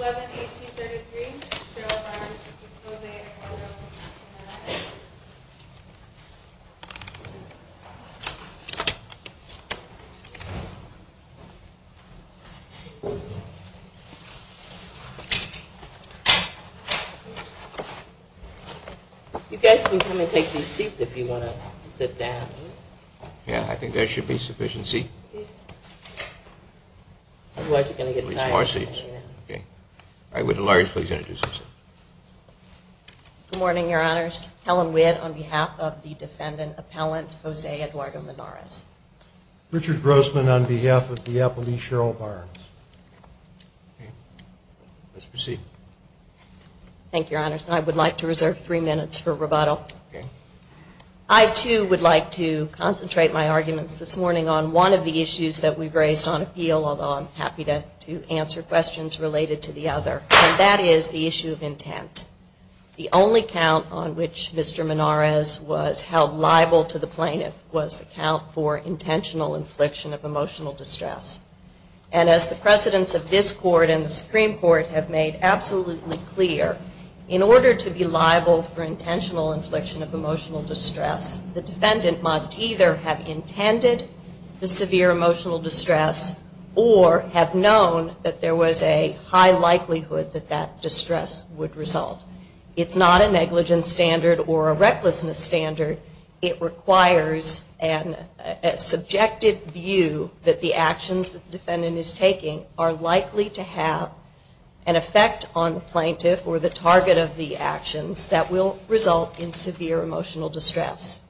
11833, Cheryl Barnes, this is Jose Alvarado, Monarrez You guys can come and take these seats if you want to sit down. Yeah, I think there should be sufficient seat. I would like to introduce myself. Good morning, your honors. Helen Witt on behalf of the defendant appellant, Jose Eduardo Monarrez. Richard Grossman on behalf of the appellee, Cheryl Barnes. Let's proceed. Thank you, your honors. I would like to reserve three minutes for rebuttal. I, too, would like to concentrate my arguments this morning on one of the issues that we've raised on appeal, although I'm happy to answer questions related to the other, and that is the issue of intent. The only count on which Mr. Monarrez was held liable to the plaintiff was the count for intentional infliction of emotional distress. And as the precedents of this court and the Supreme Court have made absolutely clear, in order to be liable for intentional infliction of emotional distress, the defendant must either have intended the severe emotional distress or have known that there was a high likelihood that that distress would result. It's not a negligence standard or a recklessness standard. It requires a subjective view that the actions that the defendant is taking are likely to have an effect on the plaintiff or the target of the actions that will result in severe emotional distress.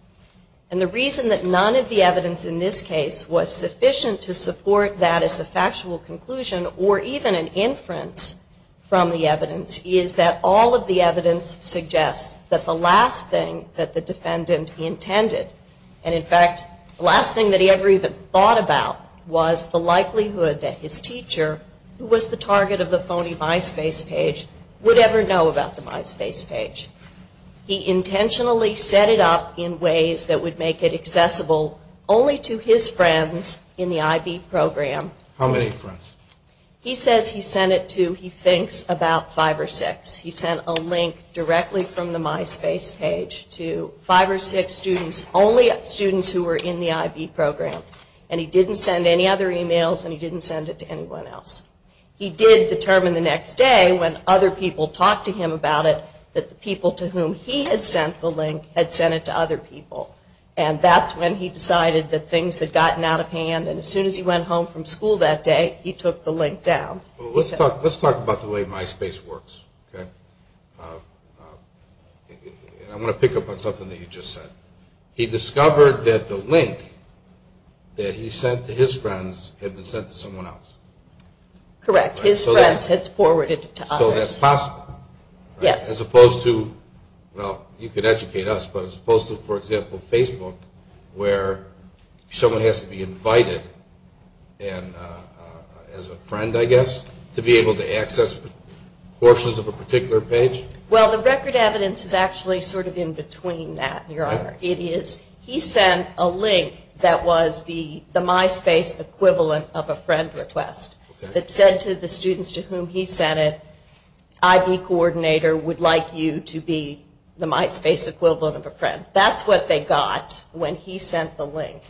And the reason that none of the evidence in this case was sufficient to support that as a factual conclusion or even an inference from the evidence is that all of the evidence suggests that the last thing that the defendant intended and, in fact, the last thing that he ever even thought about was the likelihood that his teacher, who was the target of the phony MySpace page, would ever know about the MySpace page. He intentionally set it up in ways that would make it accessible only to his friends in the IB program. How many friends? He says he sent it to, he thinks, about five or six. He sent a link directly from the MySpace page to five or six students, only students who were in the IB program. And he didn't send any other emails and he didn't send it to anyone else. He did determine the next day, when other people talked to him about it, that the people to whom he had sent the link had sent it to other people. And that's when he decided that things had gotten out of hand. And as soon as he went home from school that day, he took the link down. Let's talk about the way MySpace works. I want to pick up on something that you just said. He discovered that the link that he sent to his friends had been sent to someone else. Correct. His friends had forwarded it to others. So that's possible. Yes. As opposed to, well, you could educate us, but as opposed to, for example, Facebook where someone has to be invited as a friend, I guess, to be able to access portions of a particular page? Well, the record evidence is actually sort of in between that, Your Honor. He sent a link that was the MySpace equivalent of a friend request. It said to the students to whom he sent it, IB coordinator would like you to be the MySpace equivalent of a friend. That's what they got when he sent the link.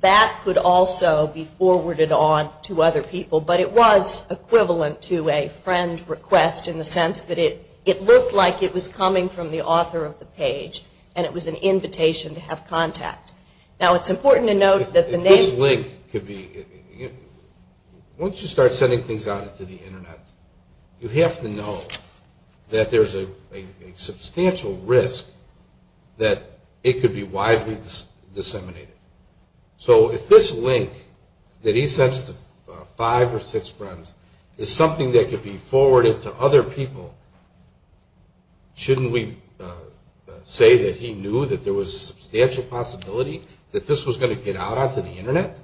That could also be forwarded on to other people. But it was equivalent to a friend request in the sense that it looked like it was coming from the author of the page and it was an invitation to have contact. Now, it's important to note that the name... If this link could be, once you start sending things out to the Internet, you have to know that there's a substantial risk that it could be widely disseminated. So if this link that he sends to five or six friends is something that could be forwarded to other people, shouldn't we say that he knew that there was a substantial possibility that this was going to get out on to the Internet?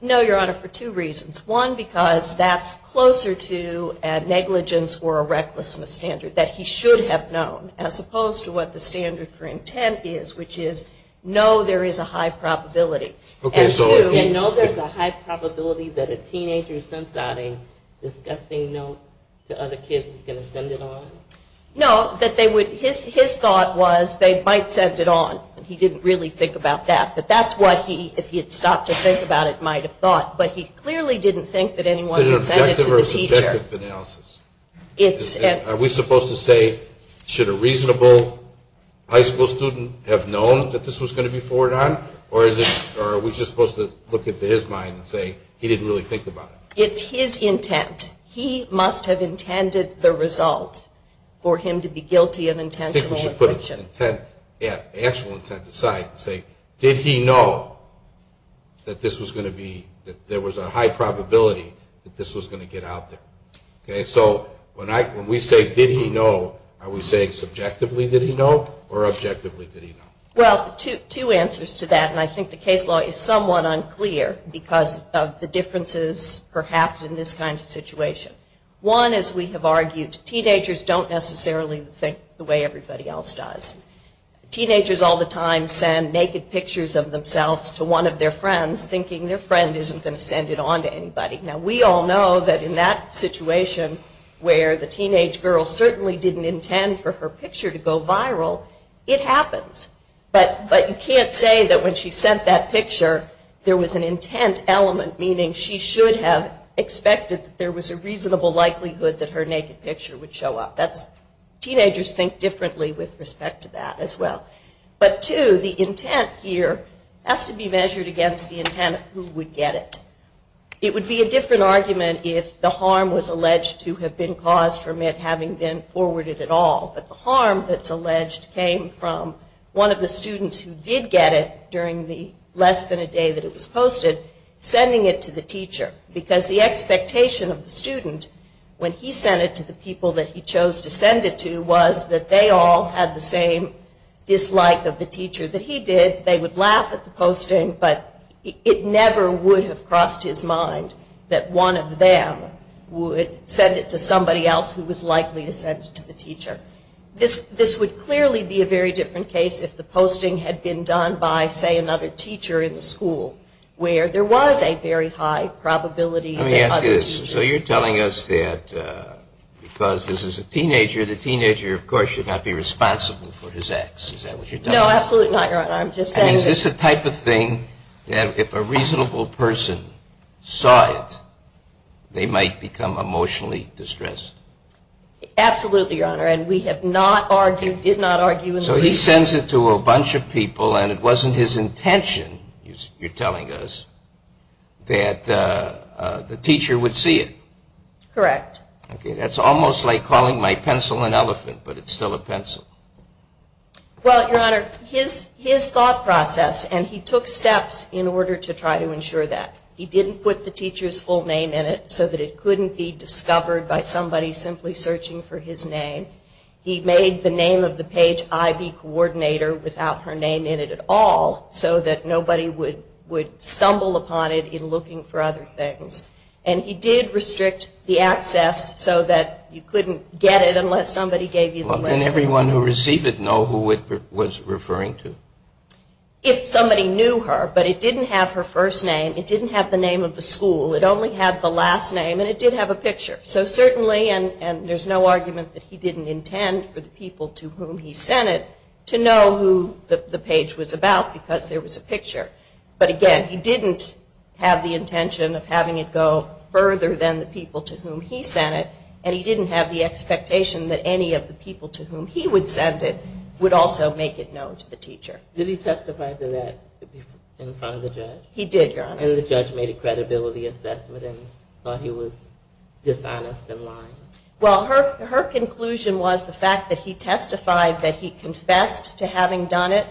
No, Your Honor, for two reasons. One, because that's closer to a negligence or a recklessness standard that he should have known as opposed to what the standard for intent is, which is, no, there is a high probability. And two... And no, there's a high probability that a teenager sent out a disgusting note to other kids who's going to send it on? No, that they would... His thought was they might send it on. He didn't really think about that. But that's what he, if he had stopped to think about it, might have thought. But he clearly didn't think that anyone could send it to the teacher. Is it an objective or subjective analysis? Are we supposed to say, should a reasonable high school student have known that this was going to be forwarded on? Or are we just supposed to look into his mind and say, he didn't really think about it? It's his intent. He must have intended the result for him to be guilty of intentional aggression. I think we should put intent, actual intent aside and say, did he know that this was going to be, that there was a high probability that this was going to get out there? Okay, so when we say, did he know, are we saying subjectively did he know or objectively did he know? Well, two answers to that, and I think the case law is somewhat unclear because of the differences perhaps in this kind of situation. One, as we have argued, teenagers don't necessarily think the way everybody else does. Teenagers all the time send naked pictures of themselves to one of their friends, thinking their friend isn't going to send it on to anybody. Now, we all know that in that situation where the teenage girl certainly didn't intend for her picture to go viral, it happens. But you can't say that when she sent that picture, there was an intent element, meaning she should have expected that there was a reasonable likelihood that her naked picture would show up. Teenagers think differently with respect to that as well. But two, the intent here has to be measured against the intent of who would get it. It would be a different argument if the harm was alleged to have been caused from it having been forwarded at all. But the harm that's alleged came from one of the students who did get it during the less than a day that it was posted, sending it to the teacher. Because the expectation of the student when he sent it to the people that he chose to send it to was that they all had the same dislike of the teacher that he did. They would laugh at the posting, but it never would have crossed his mind that one of them would send it to somebody else who was likely to send it to the teacher. This would clearly be a very different case if the posting had been done by, say, another teacher in the school, where there was a very high probability that other teachers would have done it. Let me ask you this. So you're telling us that because this is a teenager, the teenager of course should not be responsible for his acts. Is that what you're telling us? No, absolutely not, Your Honor. I'm just saying that... Is this the type of thing that if a reasonable person saw it, they might become emotionally distressed? Absolutely, Your Honor, and we have not argued, did not argue... So he sends it to a bunch of people, and it wasn't his intention, you're telling us, that the teacher would see it. Correct. Okay, that's almost like calling my pencil an elephant, but it's still a pencil. Well, Your Honor, his thought process, and he took steps in order to try to ensure that. He didn't put the teacher's full name in it so that it couldn't be discovered by somebody simply searching for his name. He made the name of the page IB coordinator without her name in it at all, so that nobody would stumble upon it in looking for other things. And he did restrict the access so that you couldn't get it unless somebody gave you the letter. Well, didn't everyone who received it know who it was referring to? If somebody knew her, but it didn't have her first name, it didn't have the name of the school, it only had the last name, and it did have a picture. So certainly, and there's no argument that he didn't intend for the people to whom he sent it to know who the page was about because there was a picture. But again, he didn't have the intention of having it go further than the people to whom he sent it, and he didn't have the expectation that any of the people to whom he would send it would also make it known to the teacher. Did he testify to that in front of the judge? He did, Your Honor. And the judge made a credibility assessment and thought he was dishonest and lying? Well, her conclusion was the fact that he testified that he confessed to having done it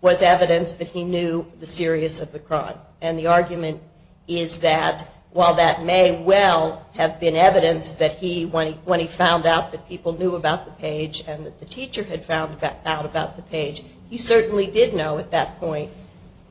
was evidence that he knew the serious of the crime. And the argument is that while that may well have been evidence that he, when he found out that people knew about the page and that the teacher had found out about the page, he certainly did know at that point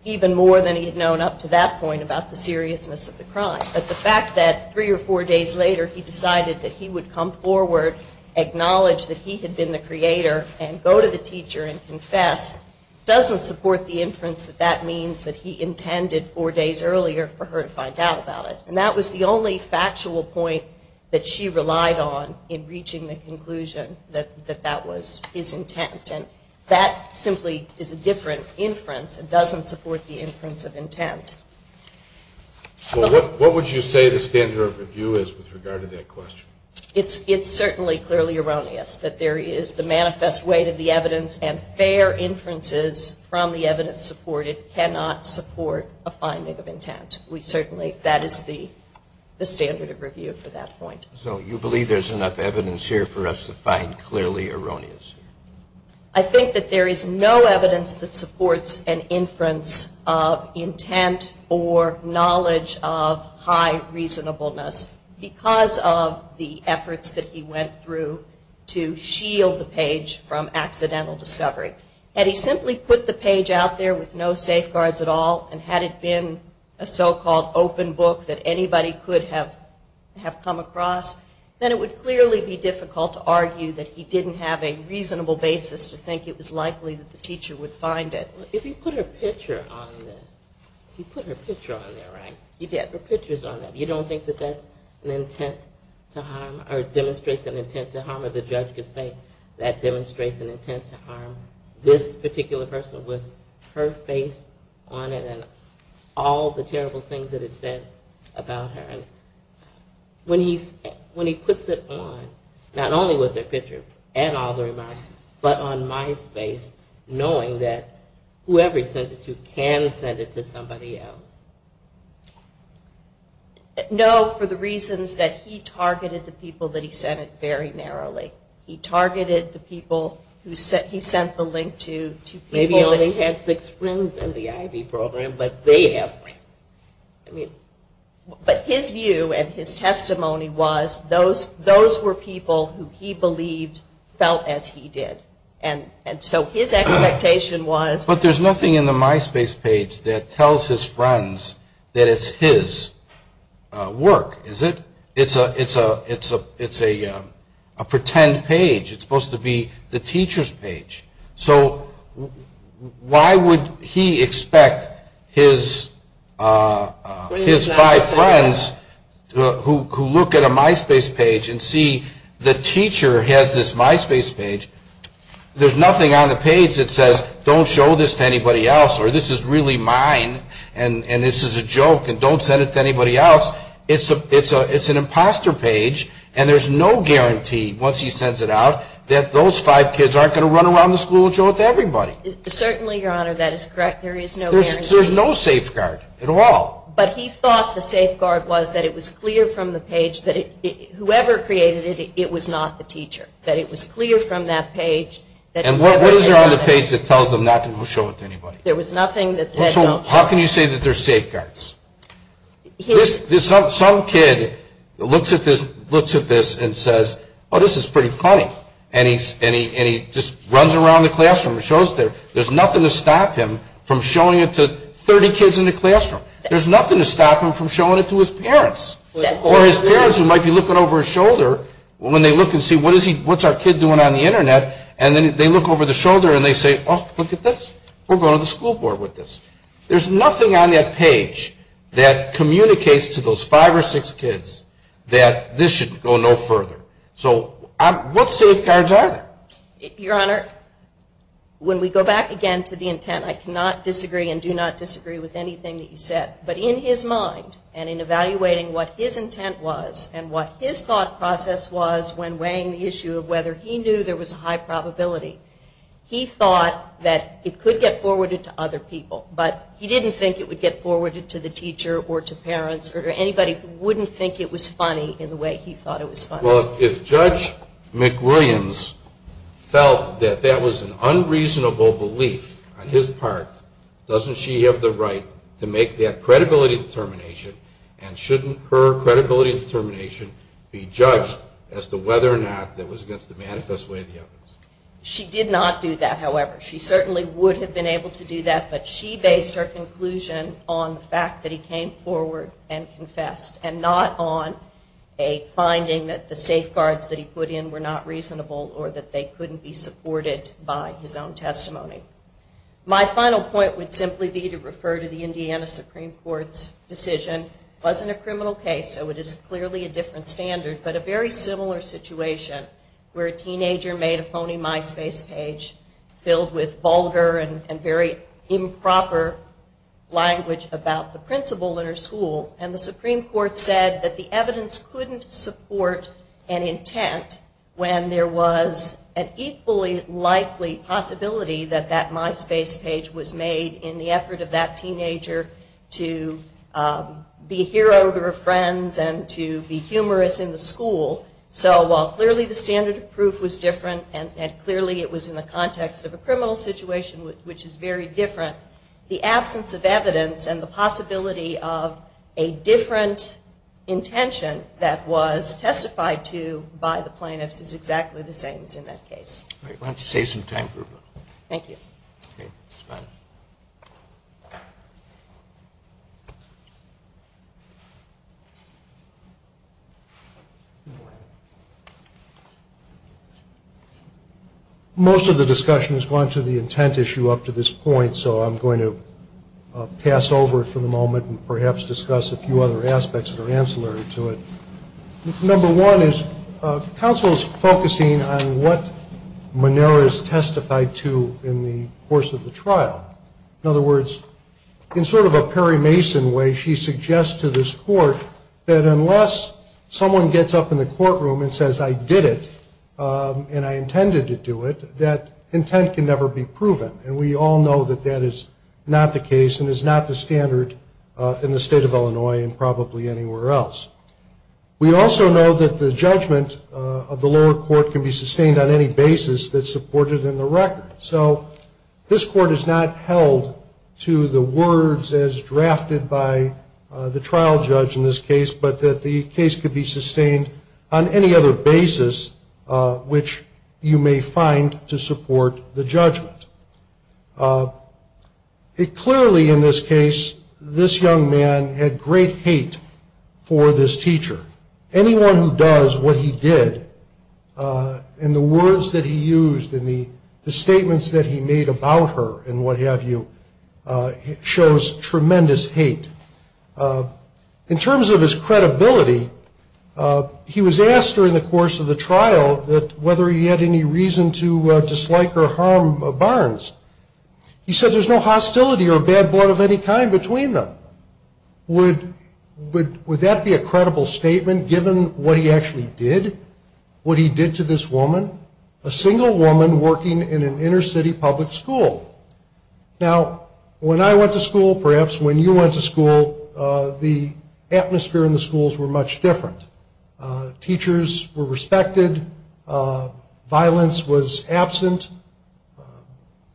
even more than he had known up to that point about the seriousness of the crime. But the fact that three or four days later he decided that he would come forward, acknowledge that he had been the creator, and go to the teacher and confess, doesn't support the inference that that means that he intended four days earlier for her to find out about it. And that was the only factual point that she relied on in reaching the conclusion that that was his intent. And that simply is a different inference and doesn't support the inference of intent. Well, what would you say the standard of review is with regard to that question? It's certainly clearly erroneous that there is the manifest weight of the evidence and fair inferences from the evidence supported cannot support a finding of intent. We certainly, that is the standard of review for that point. So you believe there's enough evidence here for us to find clearly erroneous? I think that there is no evidence that supports an inference of intent or knowledge of high reasonableness because of the efforts that he went through to shield the page from accidental discovery. Had he simply put the page out there with no safeguards at all, and had it been a so-called open book that anybody could have come across, then it would clearly be difficult to argue that he didn't have a reasonable basis to think it was likely that the teacher would find it. If you put her picture on there, right? You did. You don't think that that's an intent to harm, or demonstrates an intent to harm, or the judge could say that demonstrates an intent to harm this particular person with her face on it and all the terrible things that it said about her. And when he puts it on, not only with her picture and all the remarks, but on my space, knowing that whoever he sent it to can send it to somebody else. No, for the reasons that he targeted the people that he sent it very narrowly. He targeted the people who he sent the link to. Maybe he only had six friends in the Ivy program, but they have friends. But his view and his testimony was those were people who he believed felt as he did. And so his expectation was. But there's nothing in the MySpace page that tells his friends that it's his work, is it? It's a pretend page. It's supposed to be the teacher's page. So why would he expect his five friends who look at a MySpace page and see the teacher has this MySpace page, there's nothing on the page that says, don't show this to anybody else, or this is really mine, and this is a joke, and don't send it to anybody else. It's an imposter page, and there's no guarantee, once he sends it out, that those five kids aren't going to run around the school and show it to everybody. Certainly, Your Honor, that is correct. There is no guarantee. There's no safeguard at all. But he thought the safeguard was that it was clear from the page that whoever created it, it was not the teacher, that it was clear from that page. And what is there on the page that tells them not to show it to anybody? There was nothing that said don't show it. How can you say that there's safeguards? Some kid looks at this and says, oh, this is pretty funny, and he just runs around the classroom and shows it. There's nothing to stop him from showing it to 30 kids in the classroom. There's nothing to stop him from showing it to his parents, or his parents who might be looking over his shoulder when they look and see, what's our kid doing on the Internet, and then they look over the shoulder and they say, oh, look at this. We're going to the school board with this. There's nothing on that page that communicates to those five or six kids that this should go no further. So what safeguards are there? Your Honor, when we go back again to the intent, I cannot disagree and do not disagree with anything that you said. But in his mind and in evaluating what his intent was and what his thought process was when weighing the issue of whether he knew there was a high probability, he thought that it could get forwarded to other people. But he didn't think it would get forwarded to the teacher or to parents or to anybody who wouldn't think it was funny in the way he thought it was funny. Well, if Judge McWilliams felt that that was an unreasonable belief on his part, doesn't she have the right to make that credibility determination, and shouldn't her credibility determination be judged as to whether or not that was against the manifest way of the evidence? She did not do that, however. She certainly would have been able to do that, but she based her conclusion on the fact that he came forward and confessed and not on a finding that the safeguards that he put in were not reasonable or that they couldn't be supported by his own testimony. My final point would simply be to refer to the Indiana Supreme Court's decision. It wasn't a criminal case, so it is clearly a different standard, but a very similar situation where a teenager made a phony MySpace page filled with vulgar and very improper language about the principal in her school, and the Supreme Court said that the evidence couldn't support an intent when there was an equally likely possibility that that MySpace page was made in the effort of that teenager to be a hero to her friends and to be humorous in the school. So while clearly the standard of proof was different and clearly it was in the context of a criminal situation, which is very different, the absence of evidence and the possibility of a different intention that was testified to by the plaintiffs is exactly the same as in that case. I want to save some time for a moment. Thank you. Most of the discussion has gone to the intent issue up to this point, so I'm going to pass over it for the moment and perhaps discuss a few other aspects that are ancillary to it. Number one is counsel's focusing on what Monera has testified to in the course of the trial. In other words, in sort of a Perry Mason way, she suggests to this court that unless someone gets up in the courtroom and says, I did it and I intended to do it, that intent can never be proven, and we all know that that is not the case and is not the standard in the state of Illinois and probably anywhere else. We also know that the judgment of the lower court can be sustained on any basis that's supported in the record. So this court is not held to the words as drafted by the trial judge in this case, but that the case could be sustained on any other basis which you may find to support the judgment. Clearly in this case, this young man had great hate for this teacher. Anyone who does what he did and the words that he used and the statements that he made about her and what have you shows tremendous hate. In terms of his credibility, he was asked during the course of the trial whether he had any reason to dislike or harm Barnes. He said there's no hostility or bad blood of any kind between them. Would that be a credible statement given what he actually did, what he did to this woman, a single woman working in an inner city public school? Now, when I went to school, perhaps when you went to school, the atmosphere in the schools were much different. Teachers were respected. Violence was absent.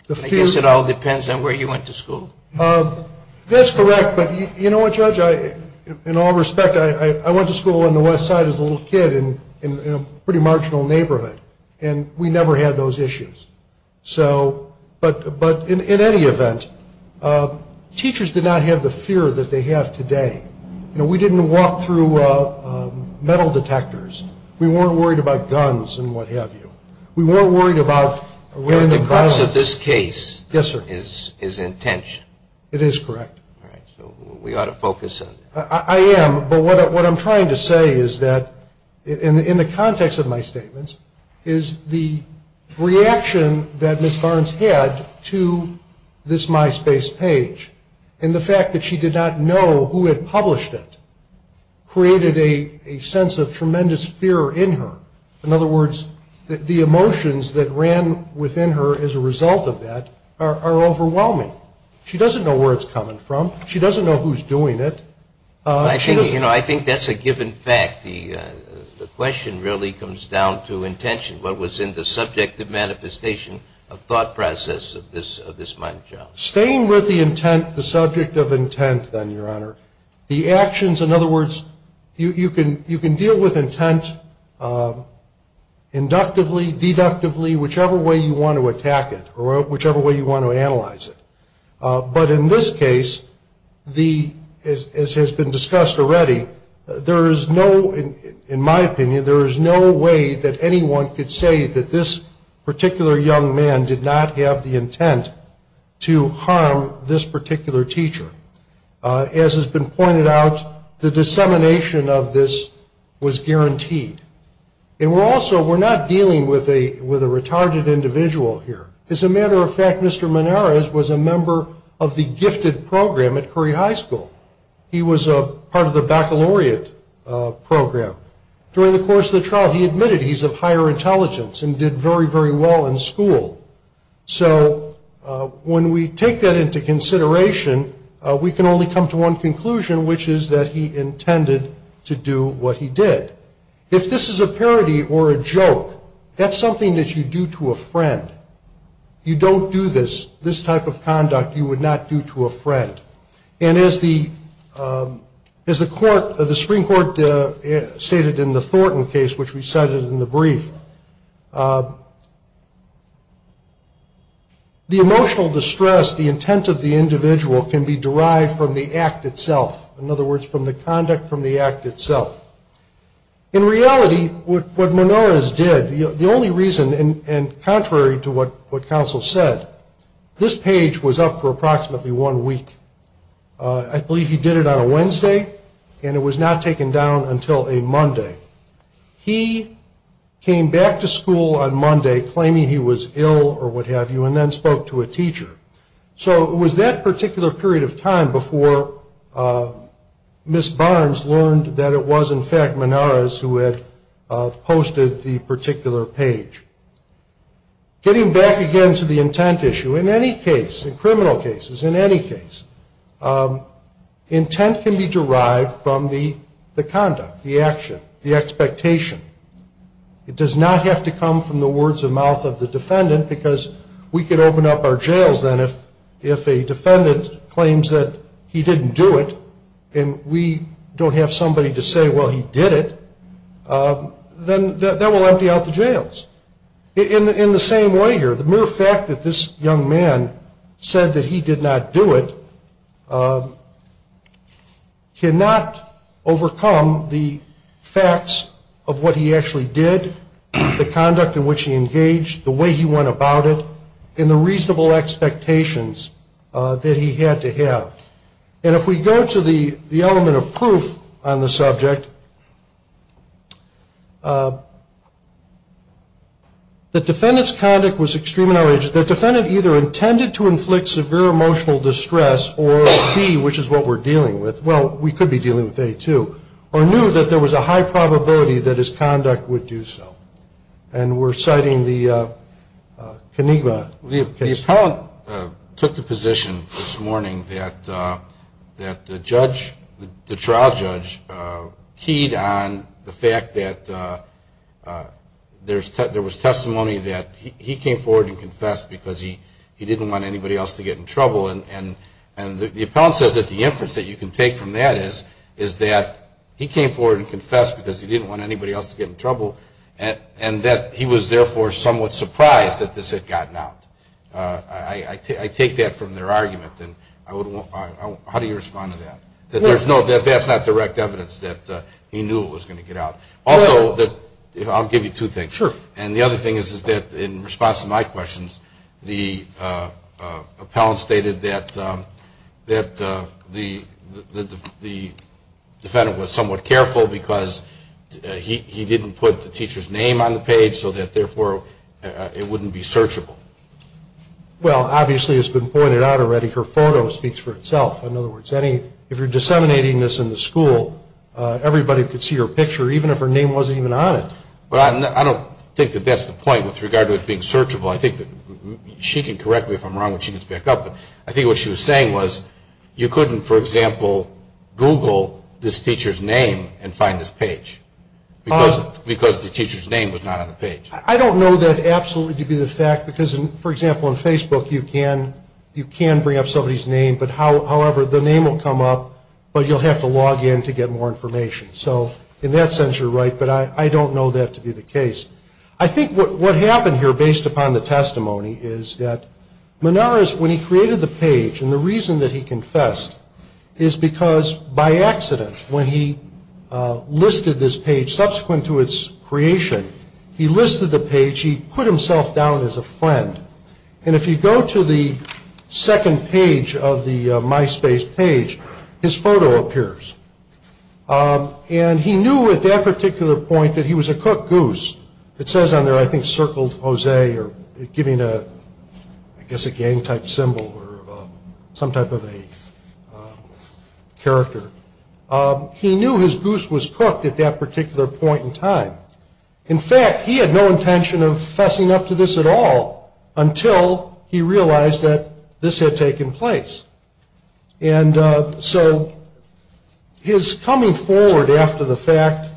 I guess it all depends on where you went to school. That's correct, but you know what, Judge, in all respect, I went to school on the west side as a little kid in a pretty marginal neighborhood, and we never had those issues. But in any event, teachers did not have the fear that they have today. You know, we didn't walk through metal detectors. We weren't worried about guns and what have you. We weren't worried about rape and violence. The crux of this case is intention. It is correct. All right, so we ought to focus on that. I am, but what I'm trying to say is that, in the context of my statements, is the reaction that Ms. Barnes had to this MySpace page and the fact that she did not know who had published it created a sense of tremendous fear in her. In other words, the emotions that ran within her as a result of that are overwhelming. She doesn't know where it's coming from. She doesn't know who's doing it. You know, I think that's a given fact. The question really comes down to intention, what was in the subjective manifestation of thought process of this mind job. Staying with the intent, the subject of intent, then, Your Honor, the actions, in other words, you can deal with intent inductively, deductively, whichever way you want to attack it or whichever way you want to analyze it. But in this case, as has been discussed already, there is no, in my opinion, there is no way that anyone could say that this particular young man did not have the intent to harm this particular teacher. As has been pointed out, the dissemination of this was guaranteed. And we're also, we're not dealing with a retarded individual here. As a matter of fact, Mr. Moneris was a member of the gifted program at Curry High School. He was a part of the baccalaureate program. During the course of the trial, he admitted he's of higher intelligence and did very, very well in school. So when we take that into consideration, we can only come to one conclusion, which is that he intended to do what he did. If this is a parody or a joke, that's something that you do to a friend. You don't do this, this type of conduct you would not do to a friend. And as the Supreme Court stated in the Thornton case, which we cited in the brief, the emotional distress, the intent of the individual can be derived from the act itself. In other words, from the conduct from the act itself. In reality, what Moneris did, the only reason, and contrary to what counsel said, this page was up for approximately one week. I believe he did it on a Wednesday, and it was not taken down until a Monday. He came back to school on Monday claiming he was ill or what have you, and then spoke to a teacher. So it was that particular period of time before Ms. Barnes learned that it was, in fact, Moneris who had posted the particular page. Getting back again to the intent issue, in any case, in criminal cases, in any case, intent can be derived from the conduct, the action, the expectation. It does not have to come from the words of mouth of the defendant, because we could open up our jails then if a defendant claims that he didn't do it, and we don't have somebody to say, well, he did it, then that will empty out the jails. In the same way here, the mere fact that this young man said that he did not do it cannot overcome the facts of what he actually did, the conduct in which he engaged, the way he went about it, and the reasonable expectations that he had to have. And if we go to the element of proof on the subject, the defendant's conduct was extremely outrageous. The defendant either intended to inflict severe emotional distress or B, which is what we're dealing with, well, we could be dealing with A too, or knew that there was a high probability that his conduct would do so. And we're citing the Conigva case. And the appellant took the position this morning that the judge, the trial judge, keyed on the fact that there was testimony that he came forward and confessed because he didn't want anybody else to get in trouble. And the appellant says that the inference that you can take from that is that he came forward and confessed because he didn't want anybody else to get in trouble, and that he was therefore somewhat surprised that this had gotten out. I take that from their argument. How do you respond to that? That that's not direct evidence that he knew it was going to get out. Also, I'll give you two things. Sure. And the other thing is that in response to my questions, the appellant stated that the defendant was somewhat careful because he didn't put the teacher's name on the page so that, therefore, it wouldn't be searchable. Well, obviously, it's been pointed out already. Her photo speaks for itself. In other words, if you're disseminating this in the school, everybody could see her picture even if her name wasn't even on it. Well, I don't think that that's the point with regard to it being searchable. I think that she can correct me if I'm wrong when she gets back up. But I think what she was saying was you couldn't, for example, Google this teacher's name and find this page because the teacher's name was not on the page. I don't know that absolutely to be the fact because, for example, on Facebook you can bring up somebody's name. However, the name will come up, but you'll have to log in to get more information. So in that sense, you're right, but I don't know that to be the case. I think what happened here, based upon the testimony, is that Menares, when he created the page, and the reason that he confessed is because, by accident, when he listed this page subsequent to its creation, he listed the page. He put himself down as a friend. And if you go to the second page of the MySpace page, his photo appears. And he knew at that particular point that he was a cooked goose. It says on there, I think, circled Jose or giving, I guess, a gang-type symbol or some type of a character. He knew his goose was cooked at that particular point in time. In fact, he had no intention of fessing up to this at all until he realized that this had taken place. And so his coming forward after the fact,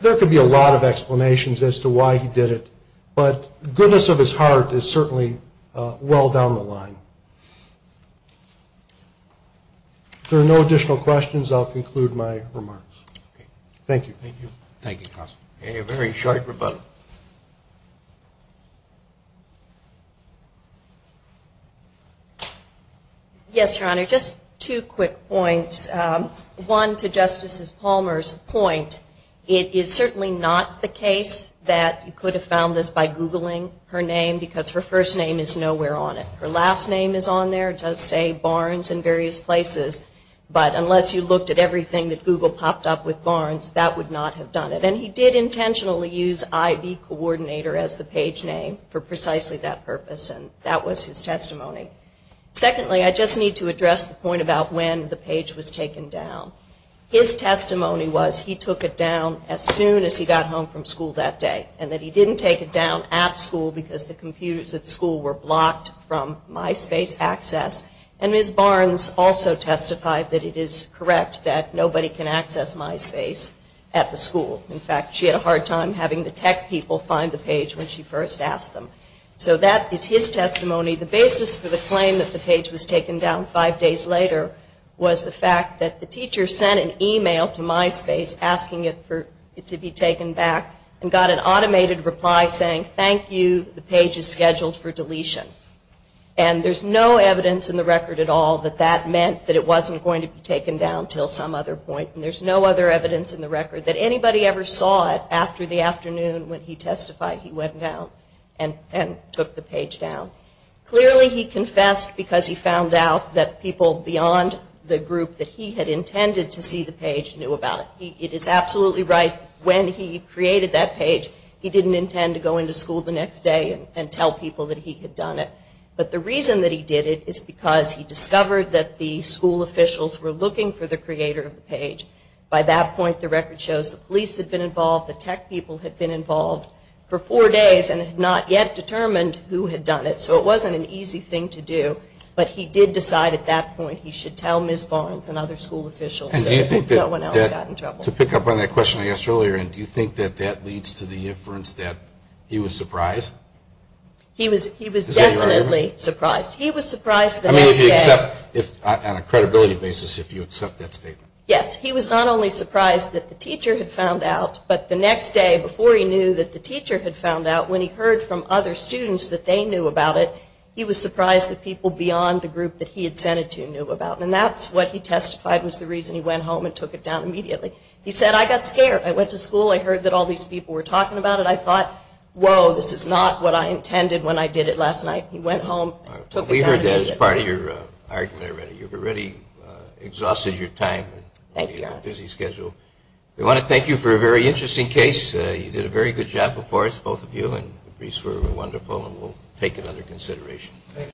there could be a lot of explanations as to why he did it, but the goodness of his heart is certainly well down the line. If there are no additional questions, I'll conclude my remarks. Thank you. A very short rebuttal. Yes, Your Honor, just two quick points. One, to Justice Palmer's point, it is certainly not the case that you could have found this by Googling her name because her first name is nowhere on it. Her last name is on there. It does say Barnes in various places. But unless you looked at everything that Google popped up with Barnes, that would not have done it. And he did intentionally use IV coordinator as the page name for precisely that purpose, and that was his testimony. Secondly, I just need to address the point about when the page was taken down. His testimony was he took it down as soon as he got home from school that day, and that he didn't take it down at school because the computers at school were blocked from MySpace access. And Ms. Barnes also testified that it is correct that nobody can access MySpace at the school. In fact, she had a hard time having the tech people find the page when she first asked them. So that is his testimony. The basis for the claim that the page was taken down five days later was the fact that the teacher sent an email to MySpace asking it to be taken back and got an automated reply saying, thank you, the page is scheduled for deletion. And there's no evidence in the record at all that that meant that it wasn't going to be taken down until some other point. And there's no other evidence in the record that anybody ever saw it after the afternoon when he testified he went down and took the page down. Clearly he confessed because he found out that people beyond the group that he had intended to see the page knew about it. It is absolutely right when he created that page, he didn't intend to go into school the next day and tell people that he had done it. But the reason that he did it is because he discovered that the school officials were looking for the creator of the page. By that point, the record shows the police had been involved, the tech people had been involved for four days and had not yet determined who had done it. So it wasn't an easy thing to do. But he did decide at that point he should tell Ms. Barnes and other school officials so that no one else got in trouble. To pick up on that question I asked earlier, do you think that that leads to the inference that he was surprised? He was definitely surprised. He was surprised the next day. I mean, if you accept, on a credibility basis, if you accept that statement. Yes, he was not only surprised that the teacher had found out, but the next day before he knew that the teacher had found out, when he heard from other students that they knew about it, he was surprised that people beyond the group that he had sent it to knew about it. And that's what he testified was the reason he went home and took it down immediately. He said, I got scared. I went to school. I heard that all these people were talking about it. I thought, whoa, this is not what I intended when I did it last night. He went home and took it down immediately. We heard that as part of your argument already. You've already exhausted your time. Thank you, Your Honor. You have a busy schedule. We want to thank you for a very interesting case. You did a very good job before us, both of you, and the briefs were wonderful, and we'll take it under consideration.